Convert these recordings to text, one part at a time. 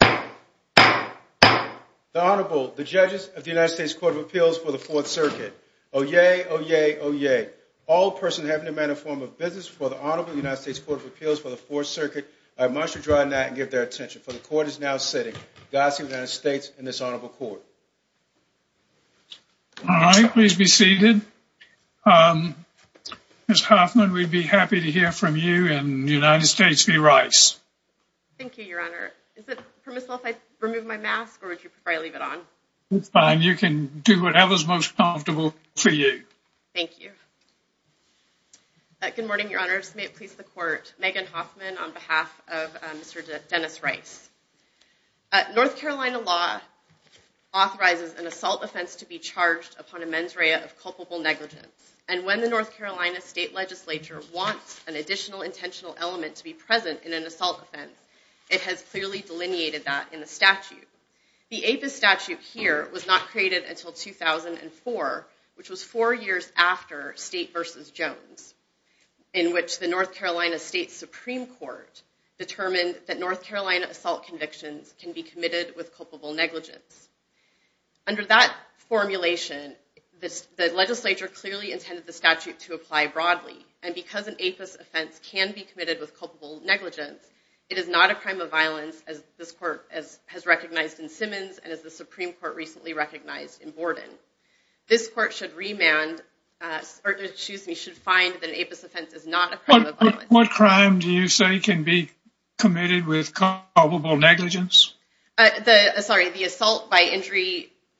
The Honorable, the Judges of the United States Court of Appeals for the Fourth Circuit. Oyez! Oyez! Oyez! All persons having to amend a form of business for the Honorable United States Court of Appeals for the Fourth Circuit are admonished to draw a net and give their attention. For the Court is now sitting. Godspeed, United States, and this Honorable Court. All right, please be seated. Ms. Hoffman, we'd be happy to hear from you and the United States v. Rice. Thank you, Your Honor. Is it permissible if I remove my mask or would you prefer I leave it on? It's fine. You can do whatever is most comfortable for you. Thank you. Good morning, Your Honors. May it please the Court. Megan Hoffman on behalf of Mr. Dennis Rice. North Carolina law authorizes an assault offense to be charged upon a mens rea of culpable negligence. And when the North Carolina State Legislature wants an additional intentional element to be present in an assault offense, it has clearly delineated that in the statute. The APIS statute here was not created until 2004, which was four years after State v. Jones, in which the North Carolina State Supreme Court determined that North Carolina assault convictions can be committed with culpable negligence. Under that formulation, the legislature clearly intended the statute to apply broadly. And because an APIS offense can be committed with culpable negligence, it is not a crime of violence as this Court has recognized in Simmons and as the Supreme Court recently recognized in Borden. This Court should find that an APIS offense is not a crime of violence. What crime do you say can be committed with culpable negligence? The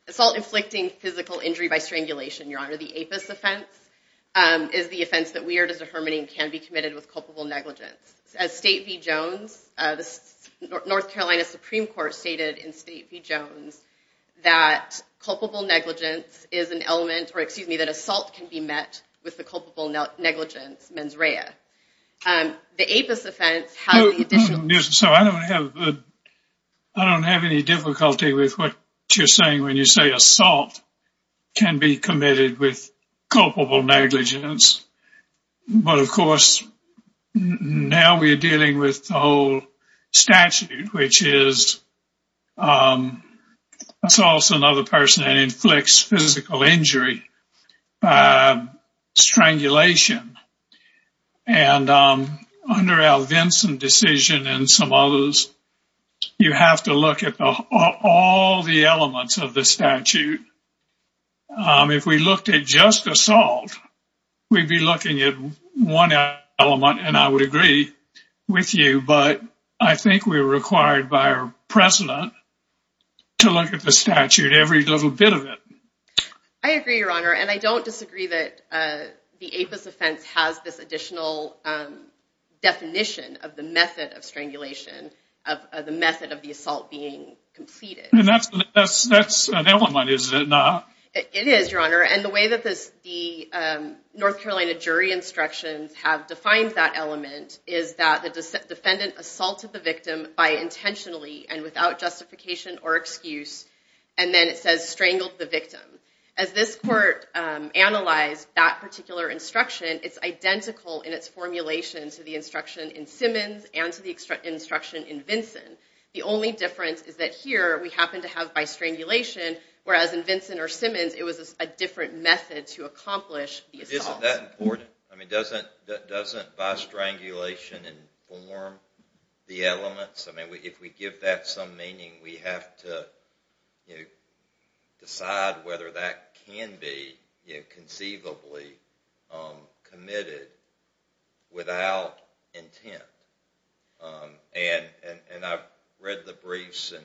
assault inflicting physical injury by strangulation, Your Honor. The APIS offense is the offense that weird as a hermeneum can be committed with culpable negligence. As State v. Jones, the North Carolina Supreme Court stated in State v. Jones that culpable negligence is an element, or excuse me, that assault can be met with the culpable negligence mens rea. The APIS offense has the additional... So I don't have any difficulty with what you're saying when you say assault can be committed with culpable negligence. But of course, now we're dealing with the whole statute, which is assaults another person and inflicts physical injury by strangulation. And under Al Vinson's decision and some others, you have to look at all the elements of the statute. If we looked at just assault, we'd be looking at one element, and I would agree with you. But I think we're required by our president to look at the statute, every little bit of it. I agree, Your Honor, and I don't disagree that the APIS offense has this additional definition of the method of strangulation, of the method of the assault being completed. And that's an element, is it not? It is, Your Honor. And the way that the North Carolina jury instructions have defined that element is that the defendant assaulted the victim by intentionally and without justification or excuse, and then it says strangled the victim. As this court analyzed that particular instruction, it's identical in its formulation to the instruction in Simmons and to the instruction in Vinson. The only difference is that here, we happen to have by strangulation, whereas in Vinson or Simmons, it was a different method to accomplish the assault. Isn't that important? Doesn't by strangulation inform the elements? If we give that some meaning, we have to decide whether that can be conceivably committed without intent. And I've read the briefs and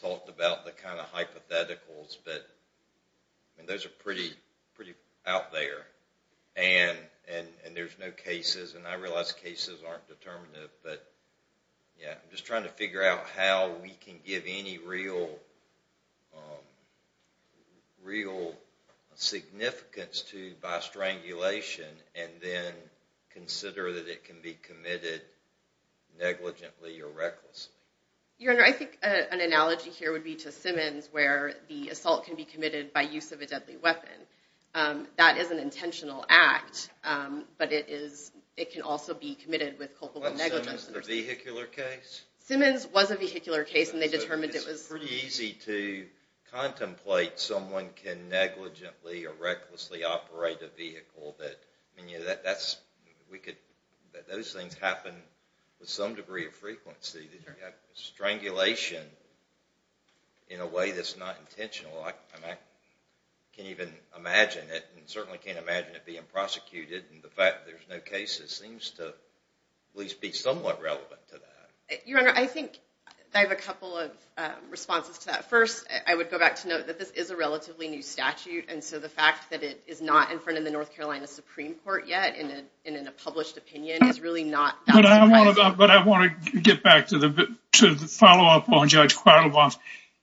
talked about the kind of hypotheticals, but those are pretty out there. And there's no cases, and I realize cases aren't determinative, but I'm just trying to figure out how we can give any real significance to by strangulation and then consider that it can be committed negligently or recklessly. Your Honor, I think an analogy here would be to Simmons, where the assault can be committed by use of a deadly weapon. That is an intentional act, but it can also be committed with culpable negligence. Wasn't Simmons a vehicular case? Simmons was a vehicular case. It's pretty easy to contemplate someone can negligently or recklessly operate a vehicle. Those things happen with some degree of frequency. Strangulation in a way that's not intentional. I can't even imagine it, and certainly can't imagine it being prosecuted. And the fact that there's no cases seems to at least be somewhat relevant to that. Your Honor, I think I have a couple of responses to that. First, I would go back to note that this is a relatively new statute, and so the fact that it is not in front of the North Carolina Supreme Court yet and in a published opinion is really not that surprising. But I want to get back to the follow-up on Judge Quattlebaum's.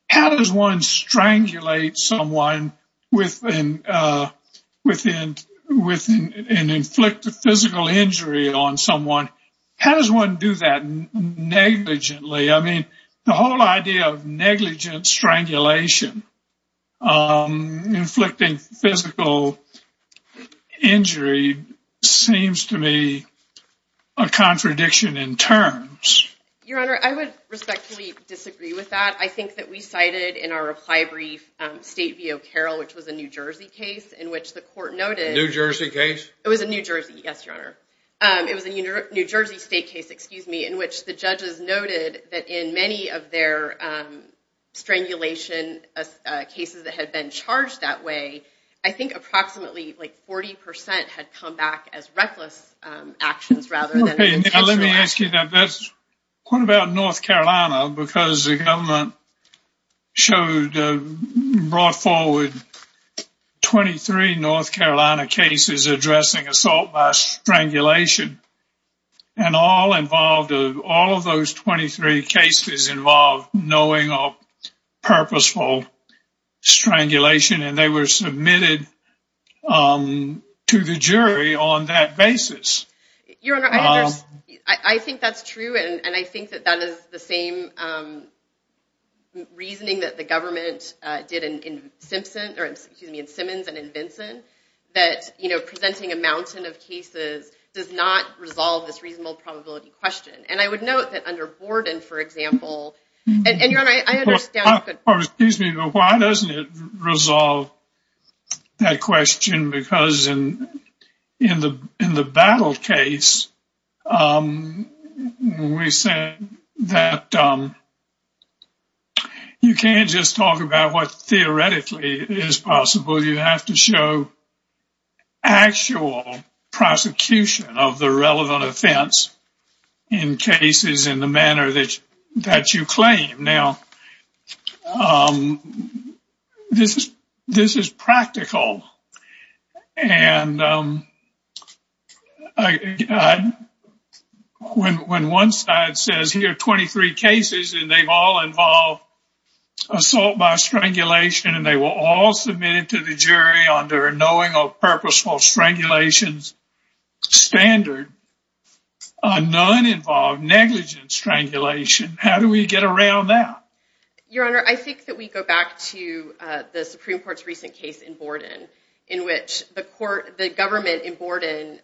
How does one strangulate someone with an inflicted physical injury on someone? How does one do that negligently? I mean, the whole idea of negligent strangulation inflicting physical injury seems to me a contradiction in terms. Your Honor, I would respectfully disagree with that. I think that we cited in our reply brief State v. O'Carroll, which was a New Jersey case in which the court noted— A New Jersey case? It was a New Jersey, yes, Your Honor. It was a New Jersey state case, excuse me, in which the judges noted that in many of their strangulation cases that had been charged that way, I think approximately like 40 percent had come back as reckless actions rather than intentional actions. What about North Carolina? Because the government brought forward 23 North Carolina cases addressing assault by strangulation, and all of those 23 cases involved knowing of purposeful strangulation, and they were submitted to the jury on that basis. Your Honor, I think that's true, and I think that that is the same reasoning that the government did in Simmons and in Vinson, that presenting a mountain of cases does not resolve this reasonable probability question. And I would note that under Borden, for example— Excuse me, but why doesn't it resolve that question? Because in the Battle case, we said that you can't just talk about what theoretically is possible. You have to show actual prosecution of the relevant offense in cases in the manner that you claim. Now, this is practical, and when one side says, here are 23 cases, and they've all involved assault by strangulation, and they were all submitted to the jury under a knowing of purposeful strangulation standard, none involved negligent strangulation. How do we get around that? Your Honor, I think that we go back to the Supreme Court's recent case in Borden, in which the government in Borden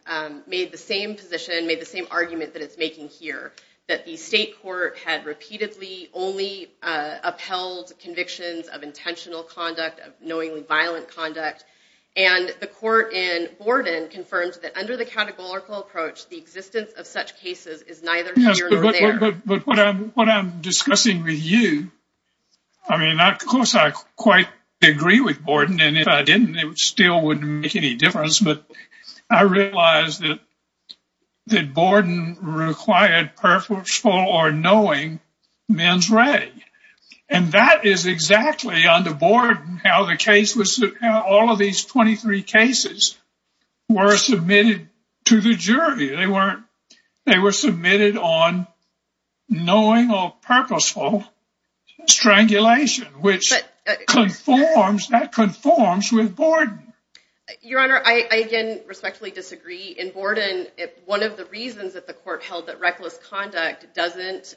made the same position, made the same argument that it's making here, that the state court had repeatedly only upheld convictions of intentional conduct, of knowingly violent conduct. And the court in Borden confirmed that under the categorical approach, the existence of such cases is neither here nor there. Yes, but what I'm discussing with you—I mean, of course, I quite agree with Borden, and if I didn't, it still wouldn't make any difference. But I realize that Borden required purposeful or knowing mens rea. And that is exactly, under Borden, how all of these 23 cases were submitted to the jury. They were submitted on knowing of purposeful strangulation, which conforms—that conforms with Borden. Your Honor, I again respectfully disagree. In Borden, one of the reasons that the court held that reckless conduct doesn't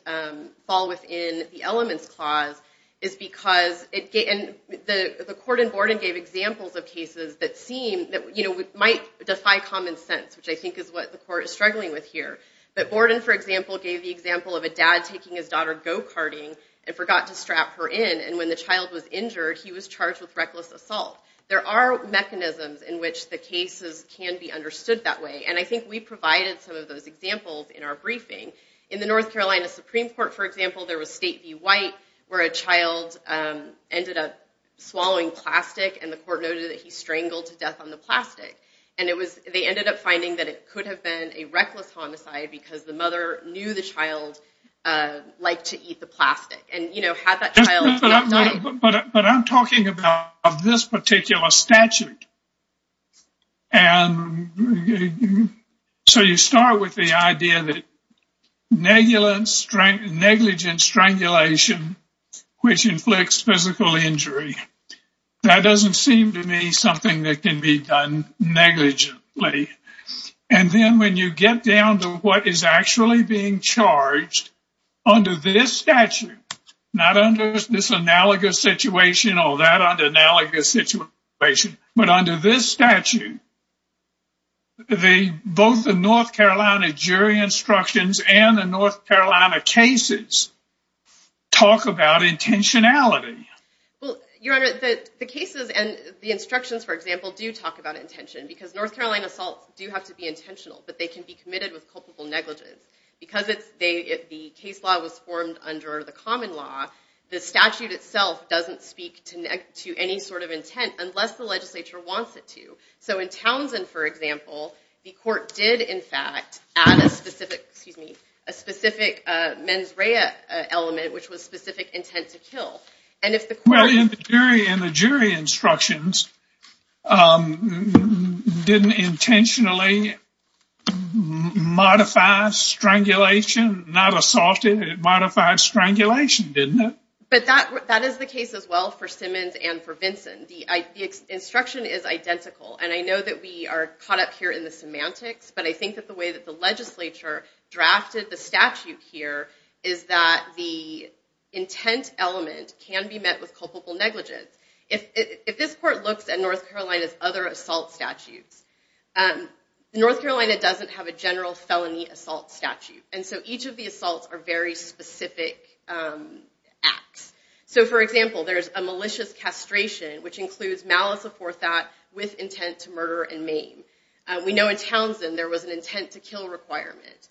fall within the Elements Clause is because—and the court in Borden gave examples of cases that might defy common sense, which I think is what the court is struggling with here. But Borden, for example, gave the example of a dad taking his daughter go-karting and forgot to strap her in, and when the child was injured, he was charged with reckless assault. There are mechanisms in which the cases can be understood that way, and I think we provided some of those examples in our briefing. In the North Carolina Supreme Court, for example, there was State v. White, where a child ended up swallowing plastic, and the court noted that he strangled to death on the plastic. And it was—they ended up finding that it could have been a reckless homicide because the mother knew the child liked to eat the plastic. And, you know, had that child not— But I'm talking about this particular statute. And so you start with the idea that negligent strangulation, which inflicts physical injury, that doesn't seem to me something that can be done negligently. And then when you get down to what is actually being charged under this statute, not under this analogous situation or that analogous situation, but under this statute, both the North Carolina jury instructions and the North Carolina cases talk about intentionality. Well, Your Honor, the cases and the instructions, for example, do talk about intention because North Carolina assaults do have to be intentional, but they can be committed with culpable negligence. Because the case law was formed under the common law, the statute itself doesn't speak to any sort of intent unless the legislature wants it to. So in Townsend, for example, the court did, in fact, add a specific—excuse me— a specific mens rea element, which was specific intent to kill. Well, and the jury instructions didn't intentionally modify strangulation, not assault it. It modified strangulation, didn't it? But that is the case as well for Simmons and for Vinson. The instruction is identical. And I know that we are caught up here in the semantics, but I think that the way that the legislature drafted the statute here is that the intent element can be met with culpable negligence. If this court looks at North Carolina's other assault statutes, North Carolina doesn't have a general felony assault statute, and so each of the assaults are very specific acts. So, for example, there's a malicious castration, which includes malice aforethought with intent to murder and maim. We know in Townsend there was an intent to kill requirement.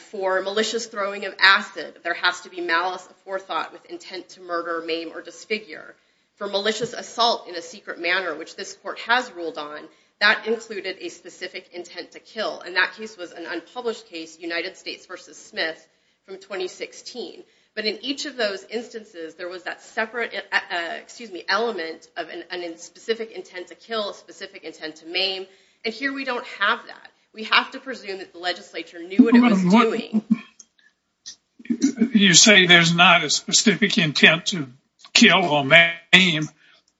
For malicious throwing of acid, there has to be malice aforethought with intent to murder, maim, or disfigure. For malicious assault in a secret manner, which this court has ruled on, that included a specific intent to kill, and that case was an unpublished case, United States v. Smith, from 2016. But in each of those instances, there was that separate—excuse me— element of a specific intent to kill, a specific intent to maim, and here we don't have that. We have to presume that the legislature knew what it was doing. You say there's not a specific intent to kill or maim,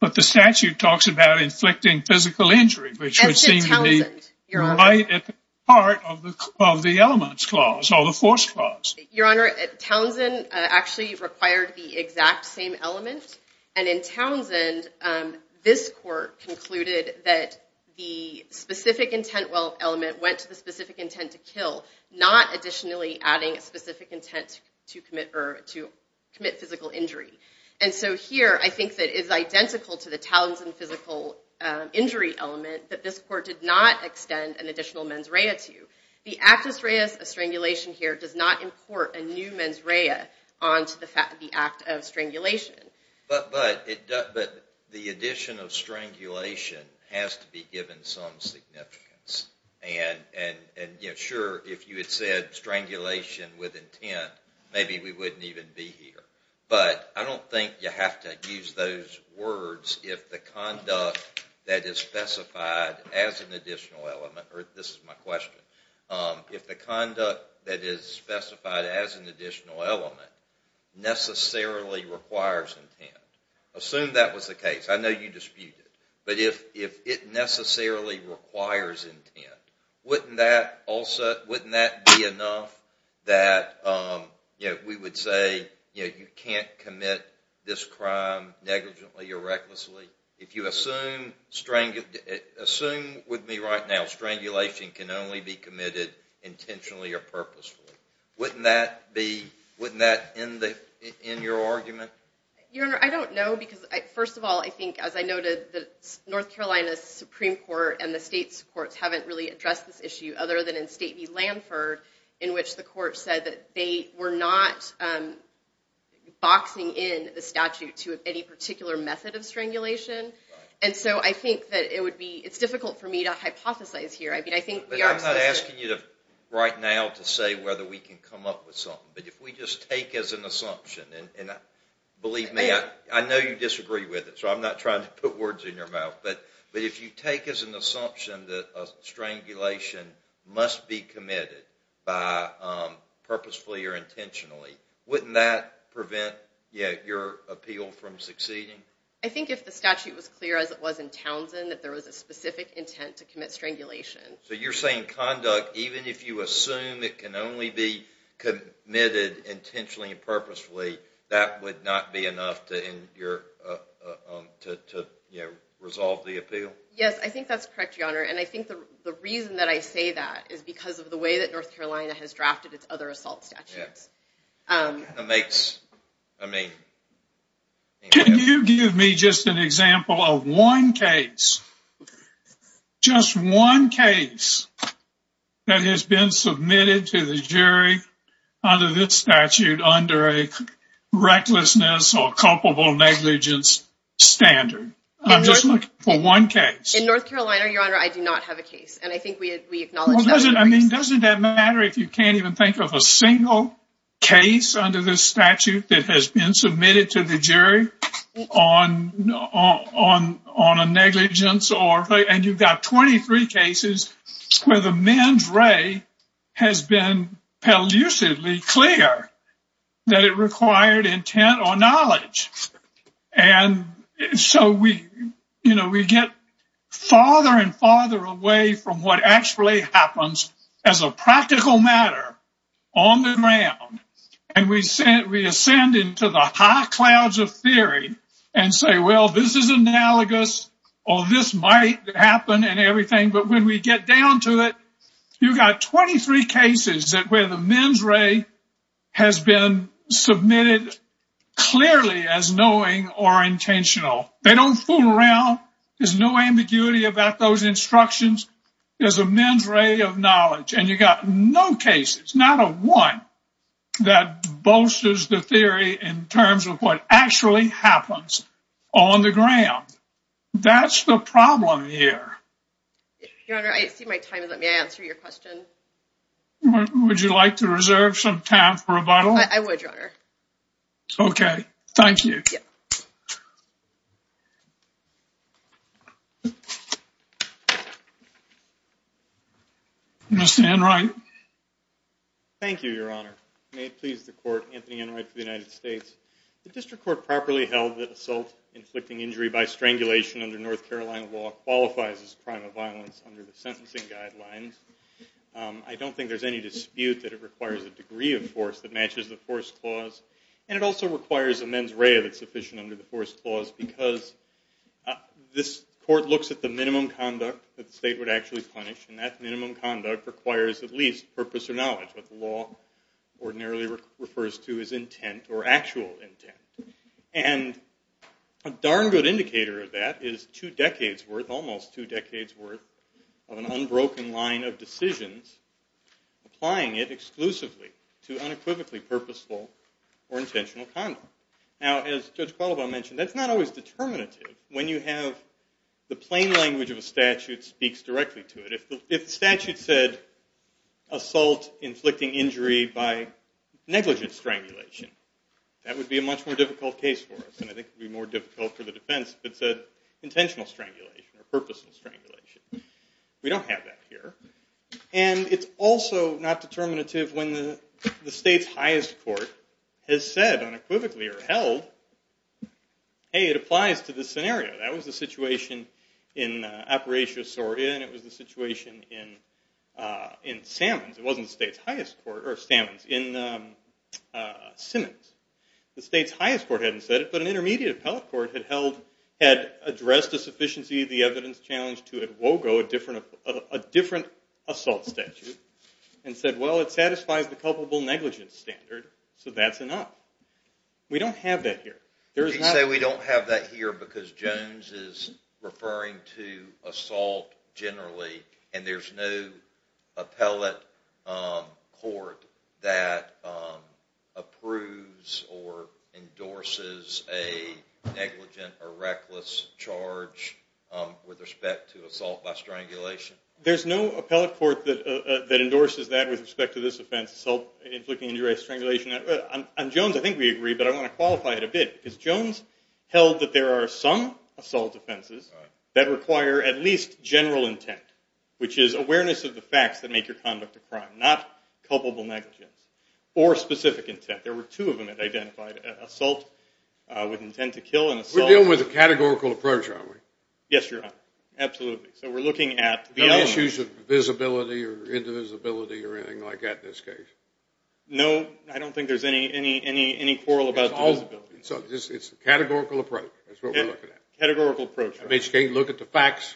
but the statute talks about inflicting physical injury, which would seem to be right at the heart of the elements clause, or the force clause. Your Honor, Townsend actually required the exact same element, and in Townsend, this court concluded that the specific intent element went to the specific intent to kill, not additionally adding a specific intent to commit physical injury. And so here, I think that it's identical to the Townsend physical injury element that this court did not extend an additional mens rea to. The actus reus of strangulation here does not import a new mens rea onto the act of strangulation. But the addition of strangulation has to be given some significance, and sure, if you had said strangulation with intent, maybe we wouldn't even be here. But I don't think you have to use those words if the conduct that is specified as an additional element, or this is my question, if the conduct that is specified as an additional element necessarily requires intent. Assume that was the case. I know you disputed it. But if it necessarily requires intent, wouldn't that be enough that we would say you can't commit this crime negligently or recklessly? If you assume with me right now strangulation can only be committed intentionally or purposefully, wouldn't that end your argument? Your Honor, I don't know because, first of all, I think as I noted the North Carolina Supreme Court and the state's courts haven't really addressed this issue other than in State v. Lanford, in which the court said that they were not boxing in the statute to any particular method of strangulation. And so I think that it's difficult for me to hypothesize here. I'm not asking you right now to say whether we can come up with something, but if we just take as an assumption, and believe me, I know you disagree with it, so I'm not trying to put words in your mouth, but if you take as an assumption that strangulation must be committed purposefully or intentionally, wouldn't that prevent your appeal from succeeding? I think if the statute was clear as it was in Townsend that there was a specific intent to commit strangulation. So you're saying conduct, even if you assume it can only be committed intentionally and purposefully, that would not be enough to resolve the appeal? Yes, I think that's correct, Your Honor, and I think the reason that I say that is because of the way that North Carolina has drafted its other assault statutes. Can you give me just an example of one case, just one case that has been submitted to the jury under this statute under a recklessness or culpable negligence standard? I'm just looking for one case. In North Carolina, Your Honor, I do not have a case, and I think we acknowledge that. Well, doesn't that matter if you can't even think of a single case under this statute that has been submitted to the jury on a negligence? And you've got 23 cases where the men's ray has been pellucidly clear that it required intent or knowledge. And so we get farther and farther away from what actually happens as a practical matter on the ground, and we ascend into the high clouds of theory and say, well, this is analogous or this might happen and everything. But when we get down to it, you've got 23 cases where the men's ray has been submitted clearly as knowing or intentional. They don't fool around. There's no ambiguity about those instructions. There's a men's ray of knowledge, and you've got no cases, it's not a one that bolsters the theory in terms of what actually happens on the ground. That's the problem here. Your Honor, I see my time is up. May I answer your question? Would you like to reserve some time for rebuttal? I would, Your Honor. Okay. Thank you. Yes. Mr. Enright. Thank you, Your Honor. May it please the Court, Anthony Enright for the United States. The district court properly held that assault inflicting injury by strangulation under North Carolina law qualifies as a crime of violence under the sentencing guidelines. I don't think there's any dispute that it requires a degree of force that matches the force clause, and it also requires a men's ray that's sufficient under the force clause because this court looks at the minimum conduct that the state would actually punish, and that minimum conduct requires at least purpose or knowledge, what the law ordinarily refers to as intent or actual intent. And a darn good indicator of that is two decades' worth, almost two decades' worth of an unbroken line of decisions, applying it exclusively to unequivocally purposeful or intentional conduct. Now, as Judge Qualabao mentioned, that's not always determinative when you have the plain language of a statute speaks directly to it. If the statute said assault inflicting injury by negligent strangulation, that would be a much more difficult case for us, and I think it would be more difficult for the defense if it said intentional strangulation or purposeful strangulation. We don't have that here. And it's also not determinative when the state's highest court has said unequivocally or held, hey, it applies to this scenario. That was the situation in Apparatio Sordia, and it was the situation in Sammons. It wasn't the state's highest court, or Sammons, in Simmons. The state's highest court hadn't said it, but an intermediate appellate court had addressed a sufficiency of the evidence challenge to a different assault statute and said, well, it satisfies the culpable negligence standard, so that's enough. We don't have that here. You say we don't have that here because Jones is referring to assault generally and there's no appellate court that approves or endorses a negligent or reckless charge with respect to assault by strangulation? There's no appellate court that endorses that with respect to this offense, assault inflicting injury by strangulation. On Jones, I think we agree, but I want to qualify it a bit, because Jones held that there are some assault offenses that require at least general intent, which is awareness of the facts that make your conduct a crime, not culpable negligence, or specific intent. There were two of them that identified assault with intent to kill an assault. We're dealing with a categorical approach, aren't we? Yes, Your Honor. Absolutely. So we're looking at the element. No issues of visibility or indivisibility or anything like that in this case? No. I don't think there's any quarrel about the visibility. So it's a categorical approach. That's what we're looking at. A categorical approach. I mean, you can't look at the facts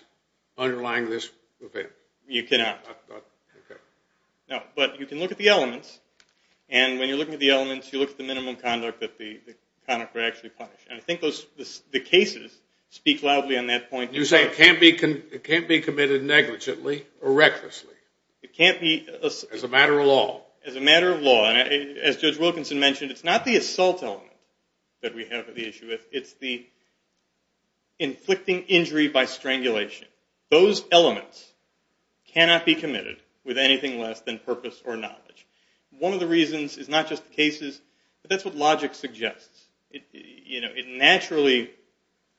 underlying this event. You cannot. Okay. No, but you can look at the elements, and when you're looking at the elements, you look at the minimum conduct that the conductor actually punished. And I think the cases speak loudly on that point. You're saying it can't be committed negligently or recklessly. It can't be. As a matter of law. As a matter of law. And as Judge Wilkinson mentioned, it's not the assault element that we have the issue with. It's the inflicting injury by strangulation. Those elements cannot be committed with anything less than purpose or knowledge. One of the reasons is not just the cases, but that's what logic suggests. It naturally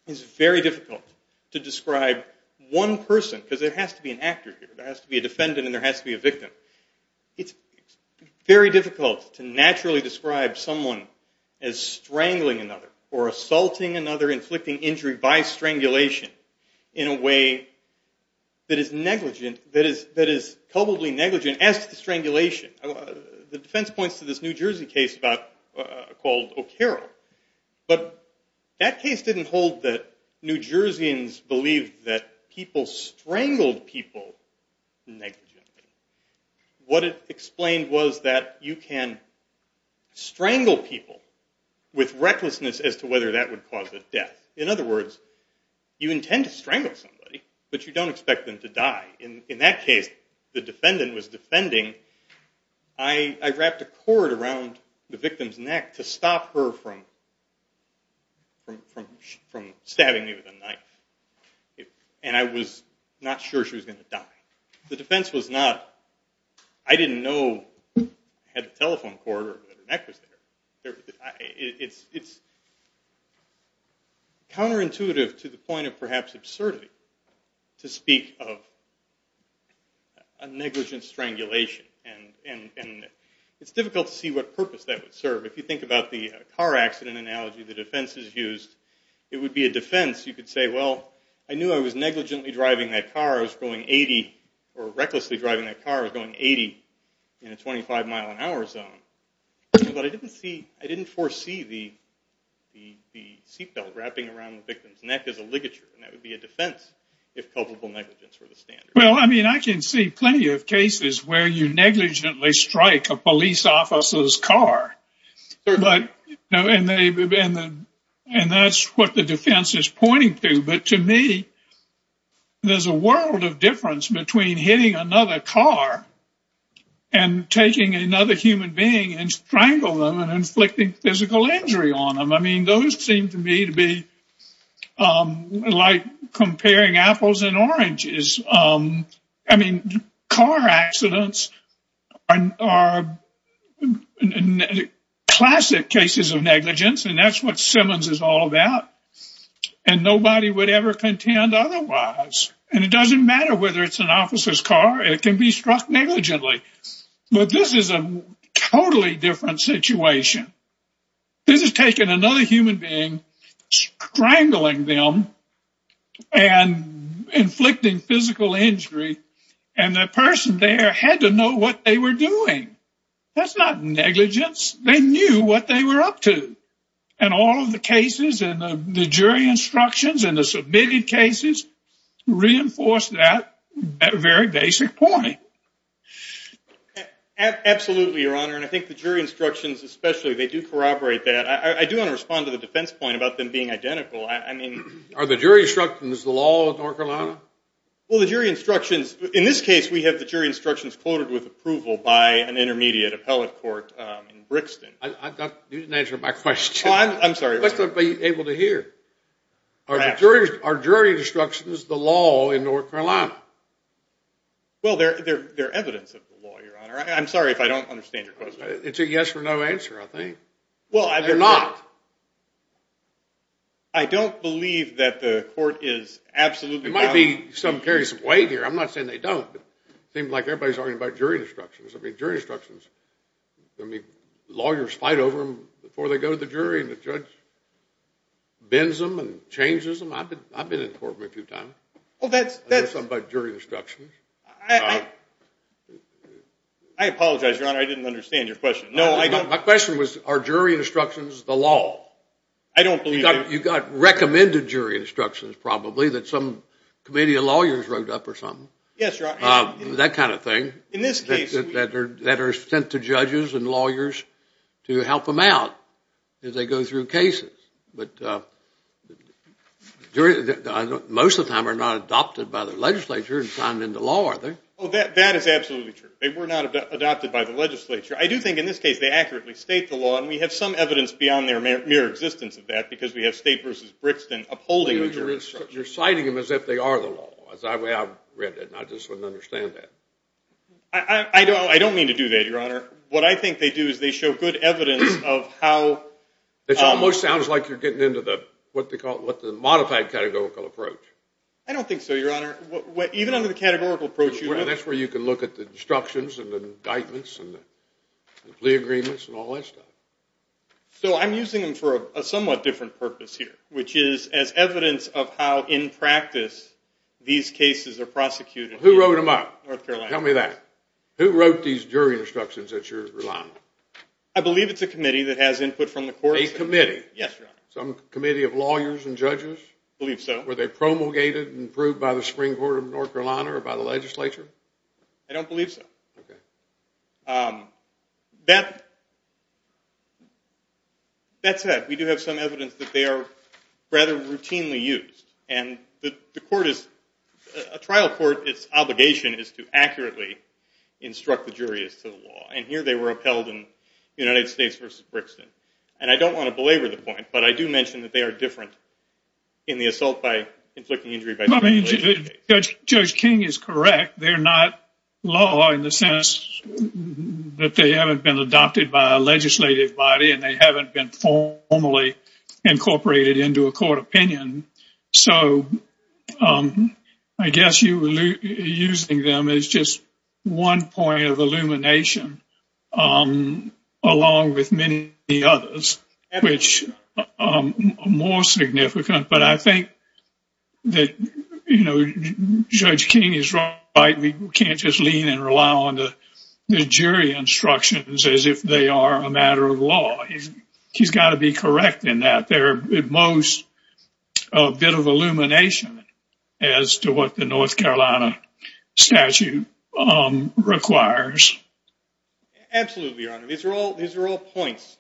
is very difficult to describe one person, because there has to be an actor here. There has to be a defendant and there has to be a victim. It's very difficult to naturally describe someone as strangling another or assaulting another, or inflicting injury by strangulation in a way that is negligent, that is culpably negligent as to the strangulation. The defense points to this New Jersey case called O'Carroll. But that case didn't hold that New Jerseyans believed that people strangled people negligently. What it explained was that you can strangle people with recklessness as to whether that would cause a death. In other words, you intend to strangle somebody, but you don't expect them to die. In that case, the defendant was defending. I wrapped a cord around the victim's neck to stop her from stabbing me with a knife, and I was not sure she was going to die. The defense was not, I didn't know, had the telephone cord or that her neck was there. It's counterintuitive to the point of perhaps absurdity to speak of a negligent strangulation. It's difficult to see what purpose that would serve. If you think about the car accident analogy the defense has used, it would be a defense. You could say, well, I knew I was negligently driving that car. I knew I was recklessly driving that car and going 80 in a 25-mile-an-hour zone. But I didn't foresee the seatbelt wrapping around the victim's neck as a ligature, and that would be a defense if culpable negligence were the standard. Well, I mean, I can see plenty of cases where you negligently strike a police officer's car, and that's what the defense is pointing to. But to me, there's a world of difference between hitting another car and taking another human being and strangle them and inflicting physical injury on them. I mean, those seem to me to be like comparing apples and oranges. I mean, car accidents are classic cases of negligence, and that's what Simmons is all about. And nobody would ever contend otherwise. And it doesn't matter whether it's an officer's car. It can be struck negligently. But this is a totally different situation. This is taking another human being, strangling them and inflicting physical injury, and the person there had to know what they were doing. That's not negligence. They knew what they were up to. And all of the cases and the jury instructions and the submitted cases reinforce that very basic point. Absolutely, Your Honor, and I think the jury instructions especially, they do corroborate that. I do want to respond to the defense point about them being identical. Are the jury instructions the law of North Carolina? Well, the jury instructions, in this case, we have the jury instructions quoted with approval by an intermediate appellate court in Brixton. You didn't answer my question. Oh, I'm sorry. You must not be able to hear. Are jury instructions the law in North Carolina? Well, they're evidence of the law, Your Honor. I'm sorry if I don't understand your question. It's a yes or no answer, I think. They're not. I don't believe that the court is absolutely valid. There might be some carries of weight here. I'm not saying they don't, but it seems like everybody's arguing about jury instructions. I mean, jury instructions, lawyers fight over them before they go to the jury and the judge bends them and changes them. I've been in court with them a few times. I know something about jury instructions. I apologize, Your Honor. I didn't understand your question. No, I don't. My question was, are jury instructions the law? I don't believe that. You got recommended jury instructions probably that some committee of lawyers wrote up or something. Yes, Your Honor. That kind of thing. In this case. That are sent to judges and lawyers to help them out as they go through cases. But most of the time they're not adopted by the legislature and signed into law, are they? That is absolutely true. They were not adopted by the legislature. I do think in this case they accurately state the law, and we have some evidence beyond their mere existence of that because we have State v. Brixton upholding jury instructions. You're citing them as if they are the law. I just wouldn't understand that. I don't mean to do that, Your Honor. What I think they do is they show good evidence of how. It almost sounds like you're getting into the modified categorical approach. I don't think so, Your Honor. Even under the categorical approach. That's where you can look at the instructions and the indictments and the plea agreements and all that stuff. So I'm using them for a somewhat different purpose here, which is as evidence of how in practice these cases are prosecuted in North Carolina. Who wrote them up? Tell me that. Who wrote these jury instructions that you're relying on? I believe it's a committee that has input from the courts. A committee? Yes, Your Honor. Some committee of lawyers and judges? I believe so. Were they promulgated and approved by the Supreme Court of North Carolina or by the legislature? I don't believe so. Okay. That said, we do have some evidence that they are rather routinely used. And the court is a trial court. Its obligation is to accurately instruct the jury as to the law. And here they were upheld in United States v. Brixton. And I don't want to belabor the point, but I do mention that they are different in the assault by inflicting injury. Judge King is correct. They're not law in the sense that they haven't been adopted by a legislative body and they haven't been formally incorporated into a court opinion. So I guess you're using them as just one point of illumination along with many others, which are more significant. But I think that Judge King is right. We can't just lean and rely on the jury instructions as if they are a matter of law. He's got to be correct in that. They're at most a bit of illumination as to what the North Carolina statute requires. Absolutely, Your Honor. These are all points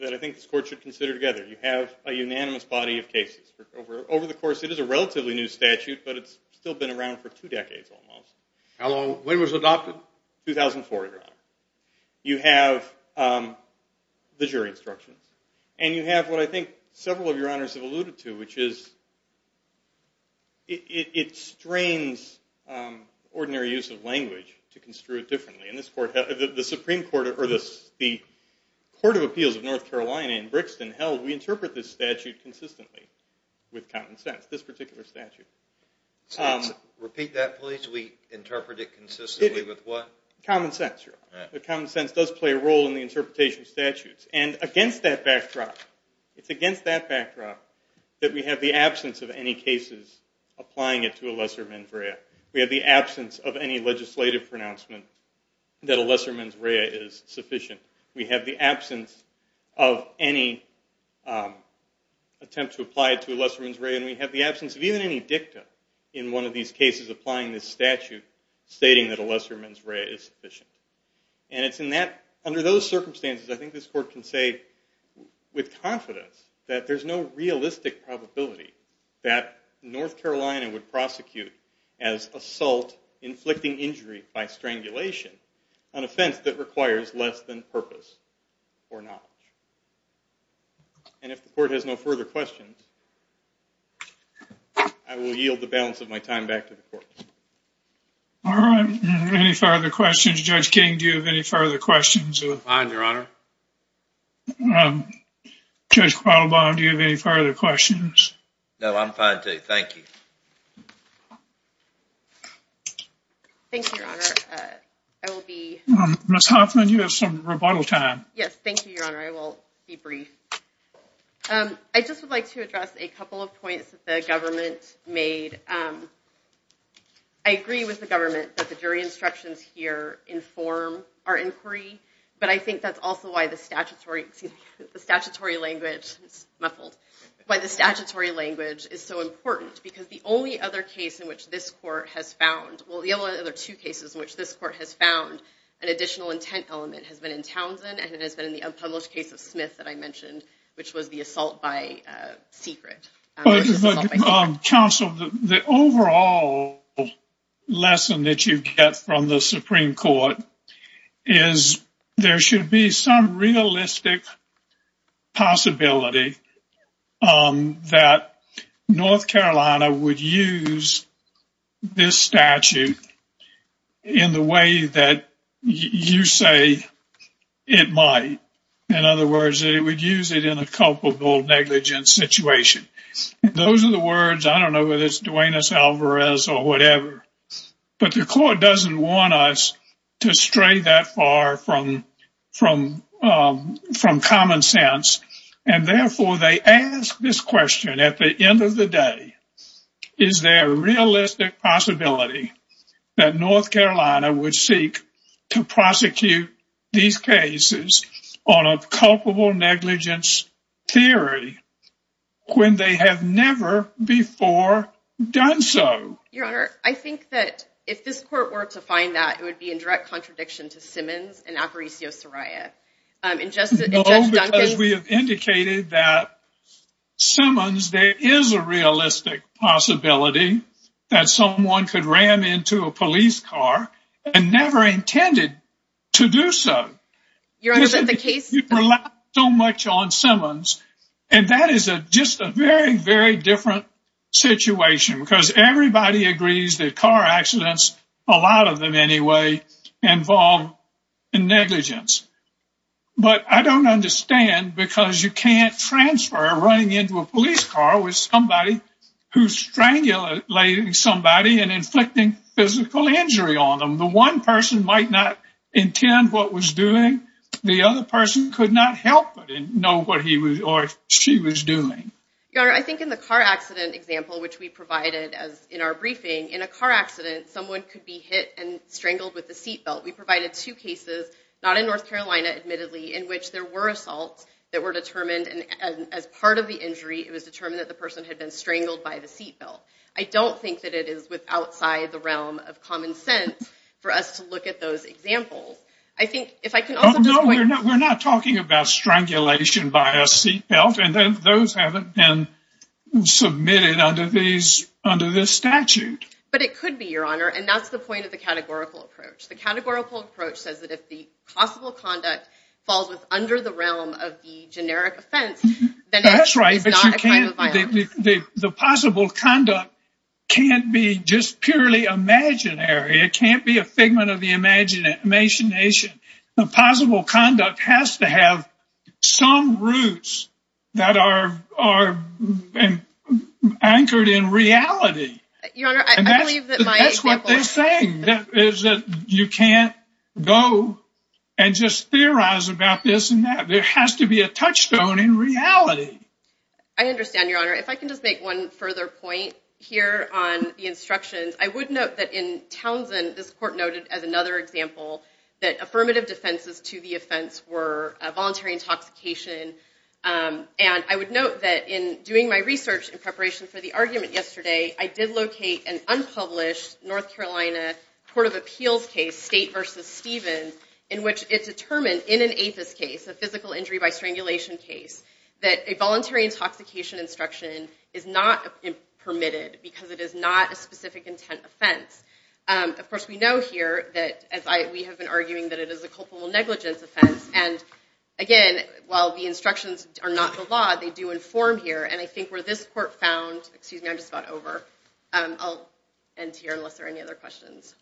that I think this court should consider together. You have a unanimous body of cases. Over the course, it is a relatively new statute, but it's still been around for two decades almost. How long was it adopted? 2004, Your Honor. You have the jury instructions. And you have what I think several of Your Honors have alluded to, which is it strains ordinary use of language to construe it differently. The Supreme Court or the Court of Appeals of North Carolina in Brixton held we interpret this statute consistently with common sense, this particular statute. Repeat that, please. We interpret it consistently with what? Common sense, Your Honor. Common sense does play a role in the interpretation of statutes. And against that backdrop, it's against that backdrop that we have the absence of any cases applying it to a lesser menfrea. We have the absence of any legislative pronouncement that a lesser menfrea is sufficient. We have the absence of any attempt to apply it to a lesser menfrea. And we have the absence of even any dicta in one of these cases applying this statute stating that a lesser menfrea is sufficient. And it's in that, under those circumstances, I think this court can say with confidence that there's no realistic probability that North Carolina would prosecute as assault inflicting injury by strangulation, an offense that requires less than purpose or knowledge. And if the court has no further questions, I will yield the balance of my time back to the court. All right. Any further questions? Judge King, do you have any further questions? None, Your Honor. Judge Quattlebaum, do you have any further questions? No, I'm fine, too. Thank you. Thank you, Your Honor. I will be— Ms. Hoffman, you have some rebuttal time. Yes, thank you, Your Honor. I will be brief. I just would like to address a couple of points that the government made. I agree with the government that the jury instructions here inform our inquiry, but I think that's also why the statutory language is so important, because the only other case in which this court has found— well, the only other two cases in which this court has found an additional intent element has been in Townsend, and it has been in the unpublished case of Smith that I mentioned, which was the assault by secret. Counsel, the overall lesson that you get from the Supreme Court is there should be some realistic possibility that North Carolina would use this statute in the way that you say it might. In other words, that it would use it in a culpable negligence situation. Those are the words—I don't know whether it's Duenas-Alvarez or whatever— but the court doesn't want us to stray that far from common sense, and therefore they ask this question at the end of the day. Is there a realistic possibility that North Carolina would seek to prosecute these cases on a culpable negligence theory when they have never before done so? Your Honor, I think that if this court were to find that, it would be in direct contradiction to Simmons and Aparicio-Soraya. No, because we have indicated that Simmons, there is a realistic possibility that someone could ram into a police car and never intended to do so. Your Honor, but the case— You've relied so much on Simmons, and that is just a very, very different situation, because everybody agrees that car accidents, a lot of them anyway, involve negligence. But I don't understand, because you can't transfer running into a police car with somebody who's strangulating somebody and inflicting physical injury on them. The one person might not intend what was doing. The other person could not help but know what he or she was doing. Your Honor, I think in the car accident example, which we provided in our briefing, in a car accident, someone could be hit and strangled with a seatbelt. We provided two cases, not in North Carolina, admittedly, in which there were assaults that were determined, and as part of the injury, it was determined that the person had been strangled by the seatbelt. I don't think that it is outside the realm of common sense for us to look at those examples. I think, if I can also just point— We're not talking about strangulation by a seatbelt, and those haven't been submitted under this statute. But it could be, Your Honor, and that's the point of the categorical approach. The categorical approach says that if the possible conduct falls under the realm of the generic offense, then it is not a crime of violence. The possible conduct can't be just purely imaginary. It can't be a figment of the imagination. The possible conduct has to have some roots that are anchored in reality. Your Honor, I believe that my example— That's what they're saying, is that you can't go and just theorize about this and that. There has to be a touchstone in reality. I understand, Your Honor. If I can just make one further point here on the instructions, I would note that in Townsend, this court noted as another example that affirmative defenses to the offense were voluntary intoxication. And I would note that in doing my research in preparation for the argument yesterday, I did locate an unpublished North Carolina Court of Appeals case, State v. Stevens, in which it determined in an APHIS case, a physical injury by strangulation case, that a voluntary intoxication instruction is not permitted because it is not a specific intent offense. Of course, we know here that we have been arguing that it is a culpable negligence offense. And again, while the instructions are not the law, they do inform here. And I think where this court found—excuse me, I'm just about over. I'll end here unless there are any other questions.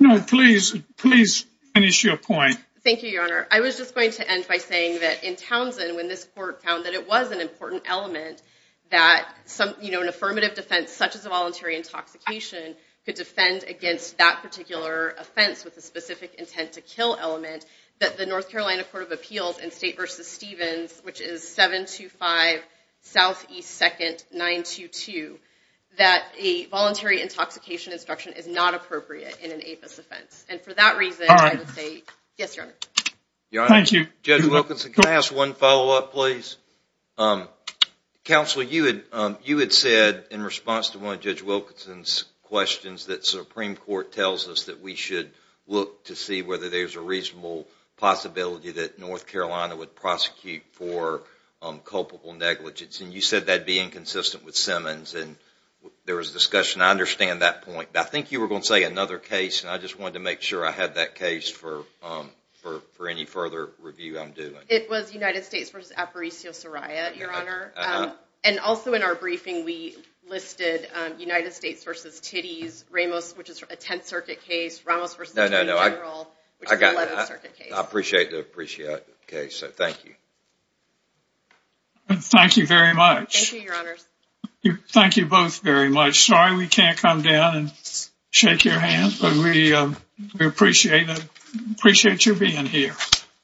No, please, please finish your point. Thank you, Your Honor. I was just going to end by saying that in Townsend, when this court found that it was an important element that an affirmative defense, such as a voluntary intoxication, could defend against that particular offense with a specific intent to kill element, that the North Carolina Court of Appeals in State v. Stevens, which is 725 Southeast 2nd 922, that a voluntary intoxication instruction is not appropriate in an APHIS offense. And for that reason, I would say— All right. Yes, Your Honor. Thank you. Judge Wilkinson, can I ask one follow-up, please? Counsel, you had said in response to one of Judge Wilkinson's questions that Supreme Court tells us that we should look to see whether there's a reasonable possibility that North Carolina would prosecute for culpable negligence. And you said that would be inconsistent with Simmons. And there was a discussion. I understand that point. I think you were going to say another case, and I just wanted to make sure I had that case for any further review I'm doing. It was United States v. Aparicio-Soraya, Your Honor. And also in our briefing, we listed United States v. Titties, Ramos, which is a 10th Circuit case, Ramos v. the Attorney General, which is an 11th Circuit case. I appreciate the case, so thank you. Thank you very much. Thank you, Your Honors. Thank you both very much. We're sorry we can't come down and shake your hands, but we appreciate you being here.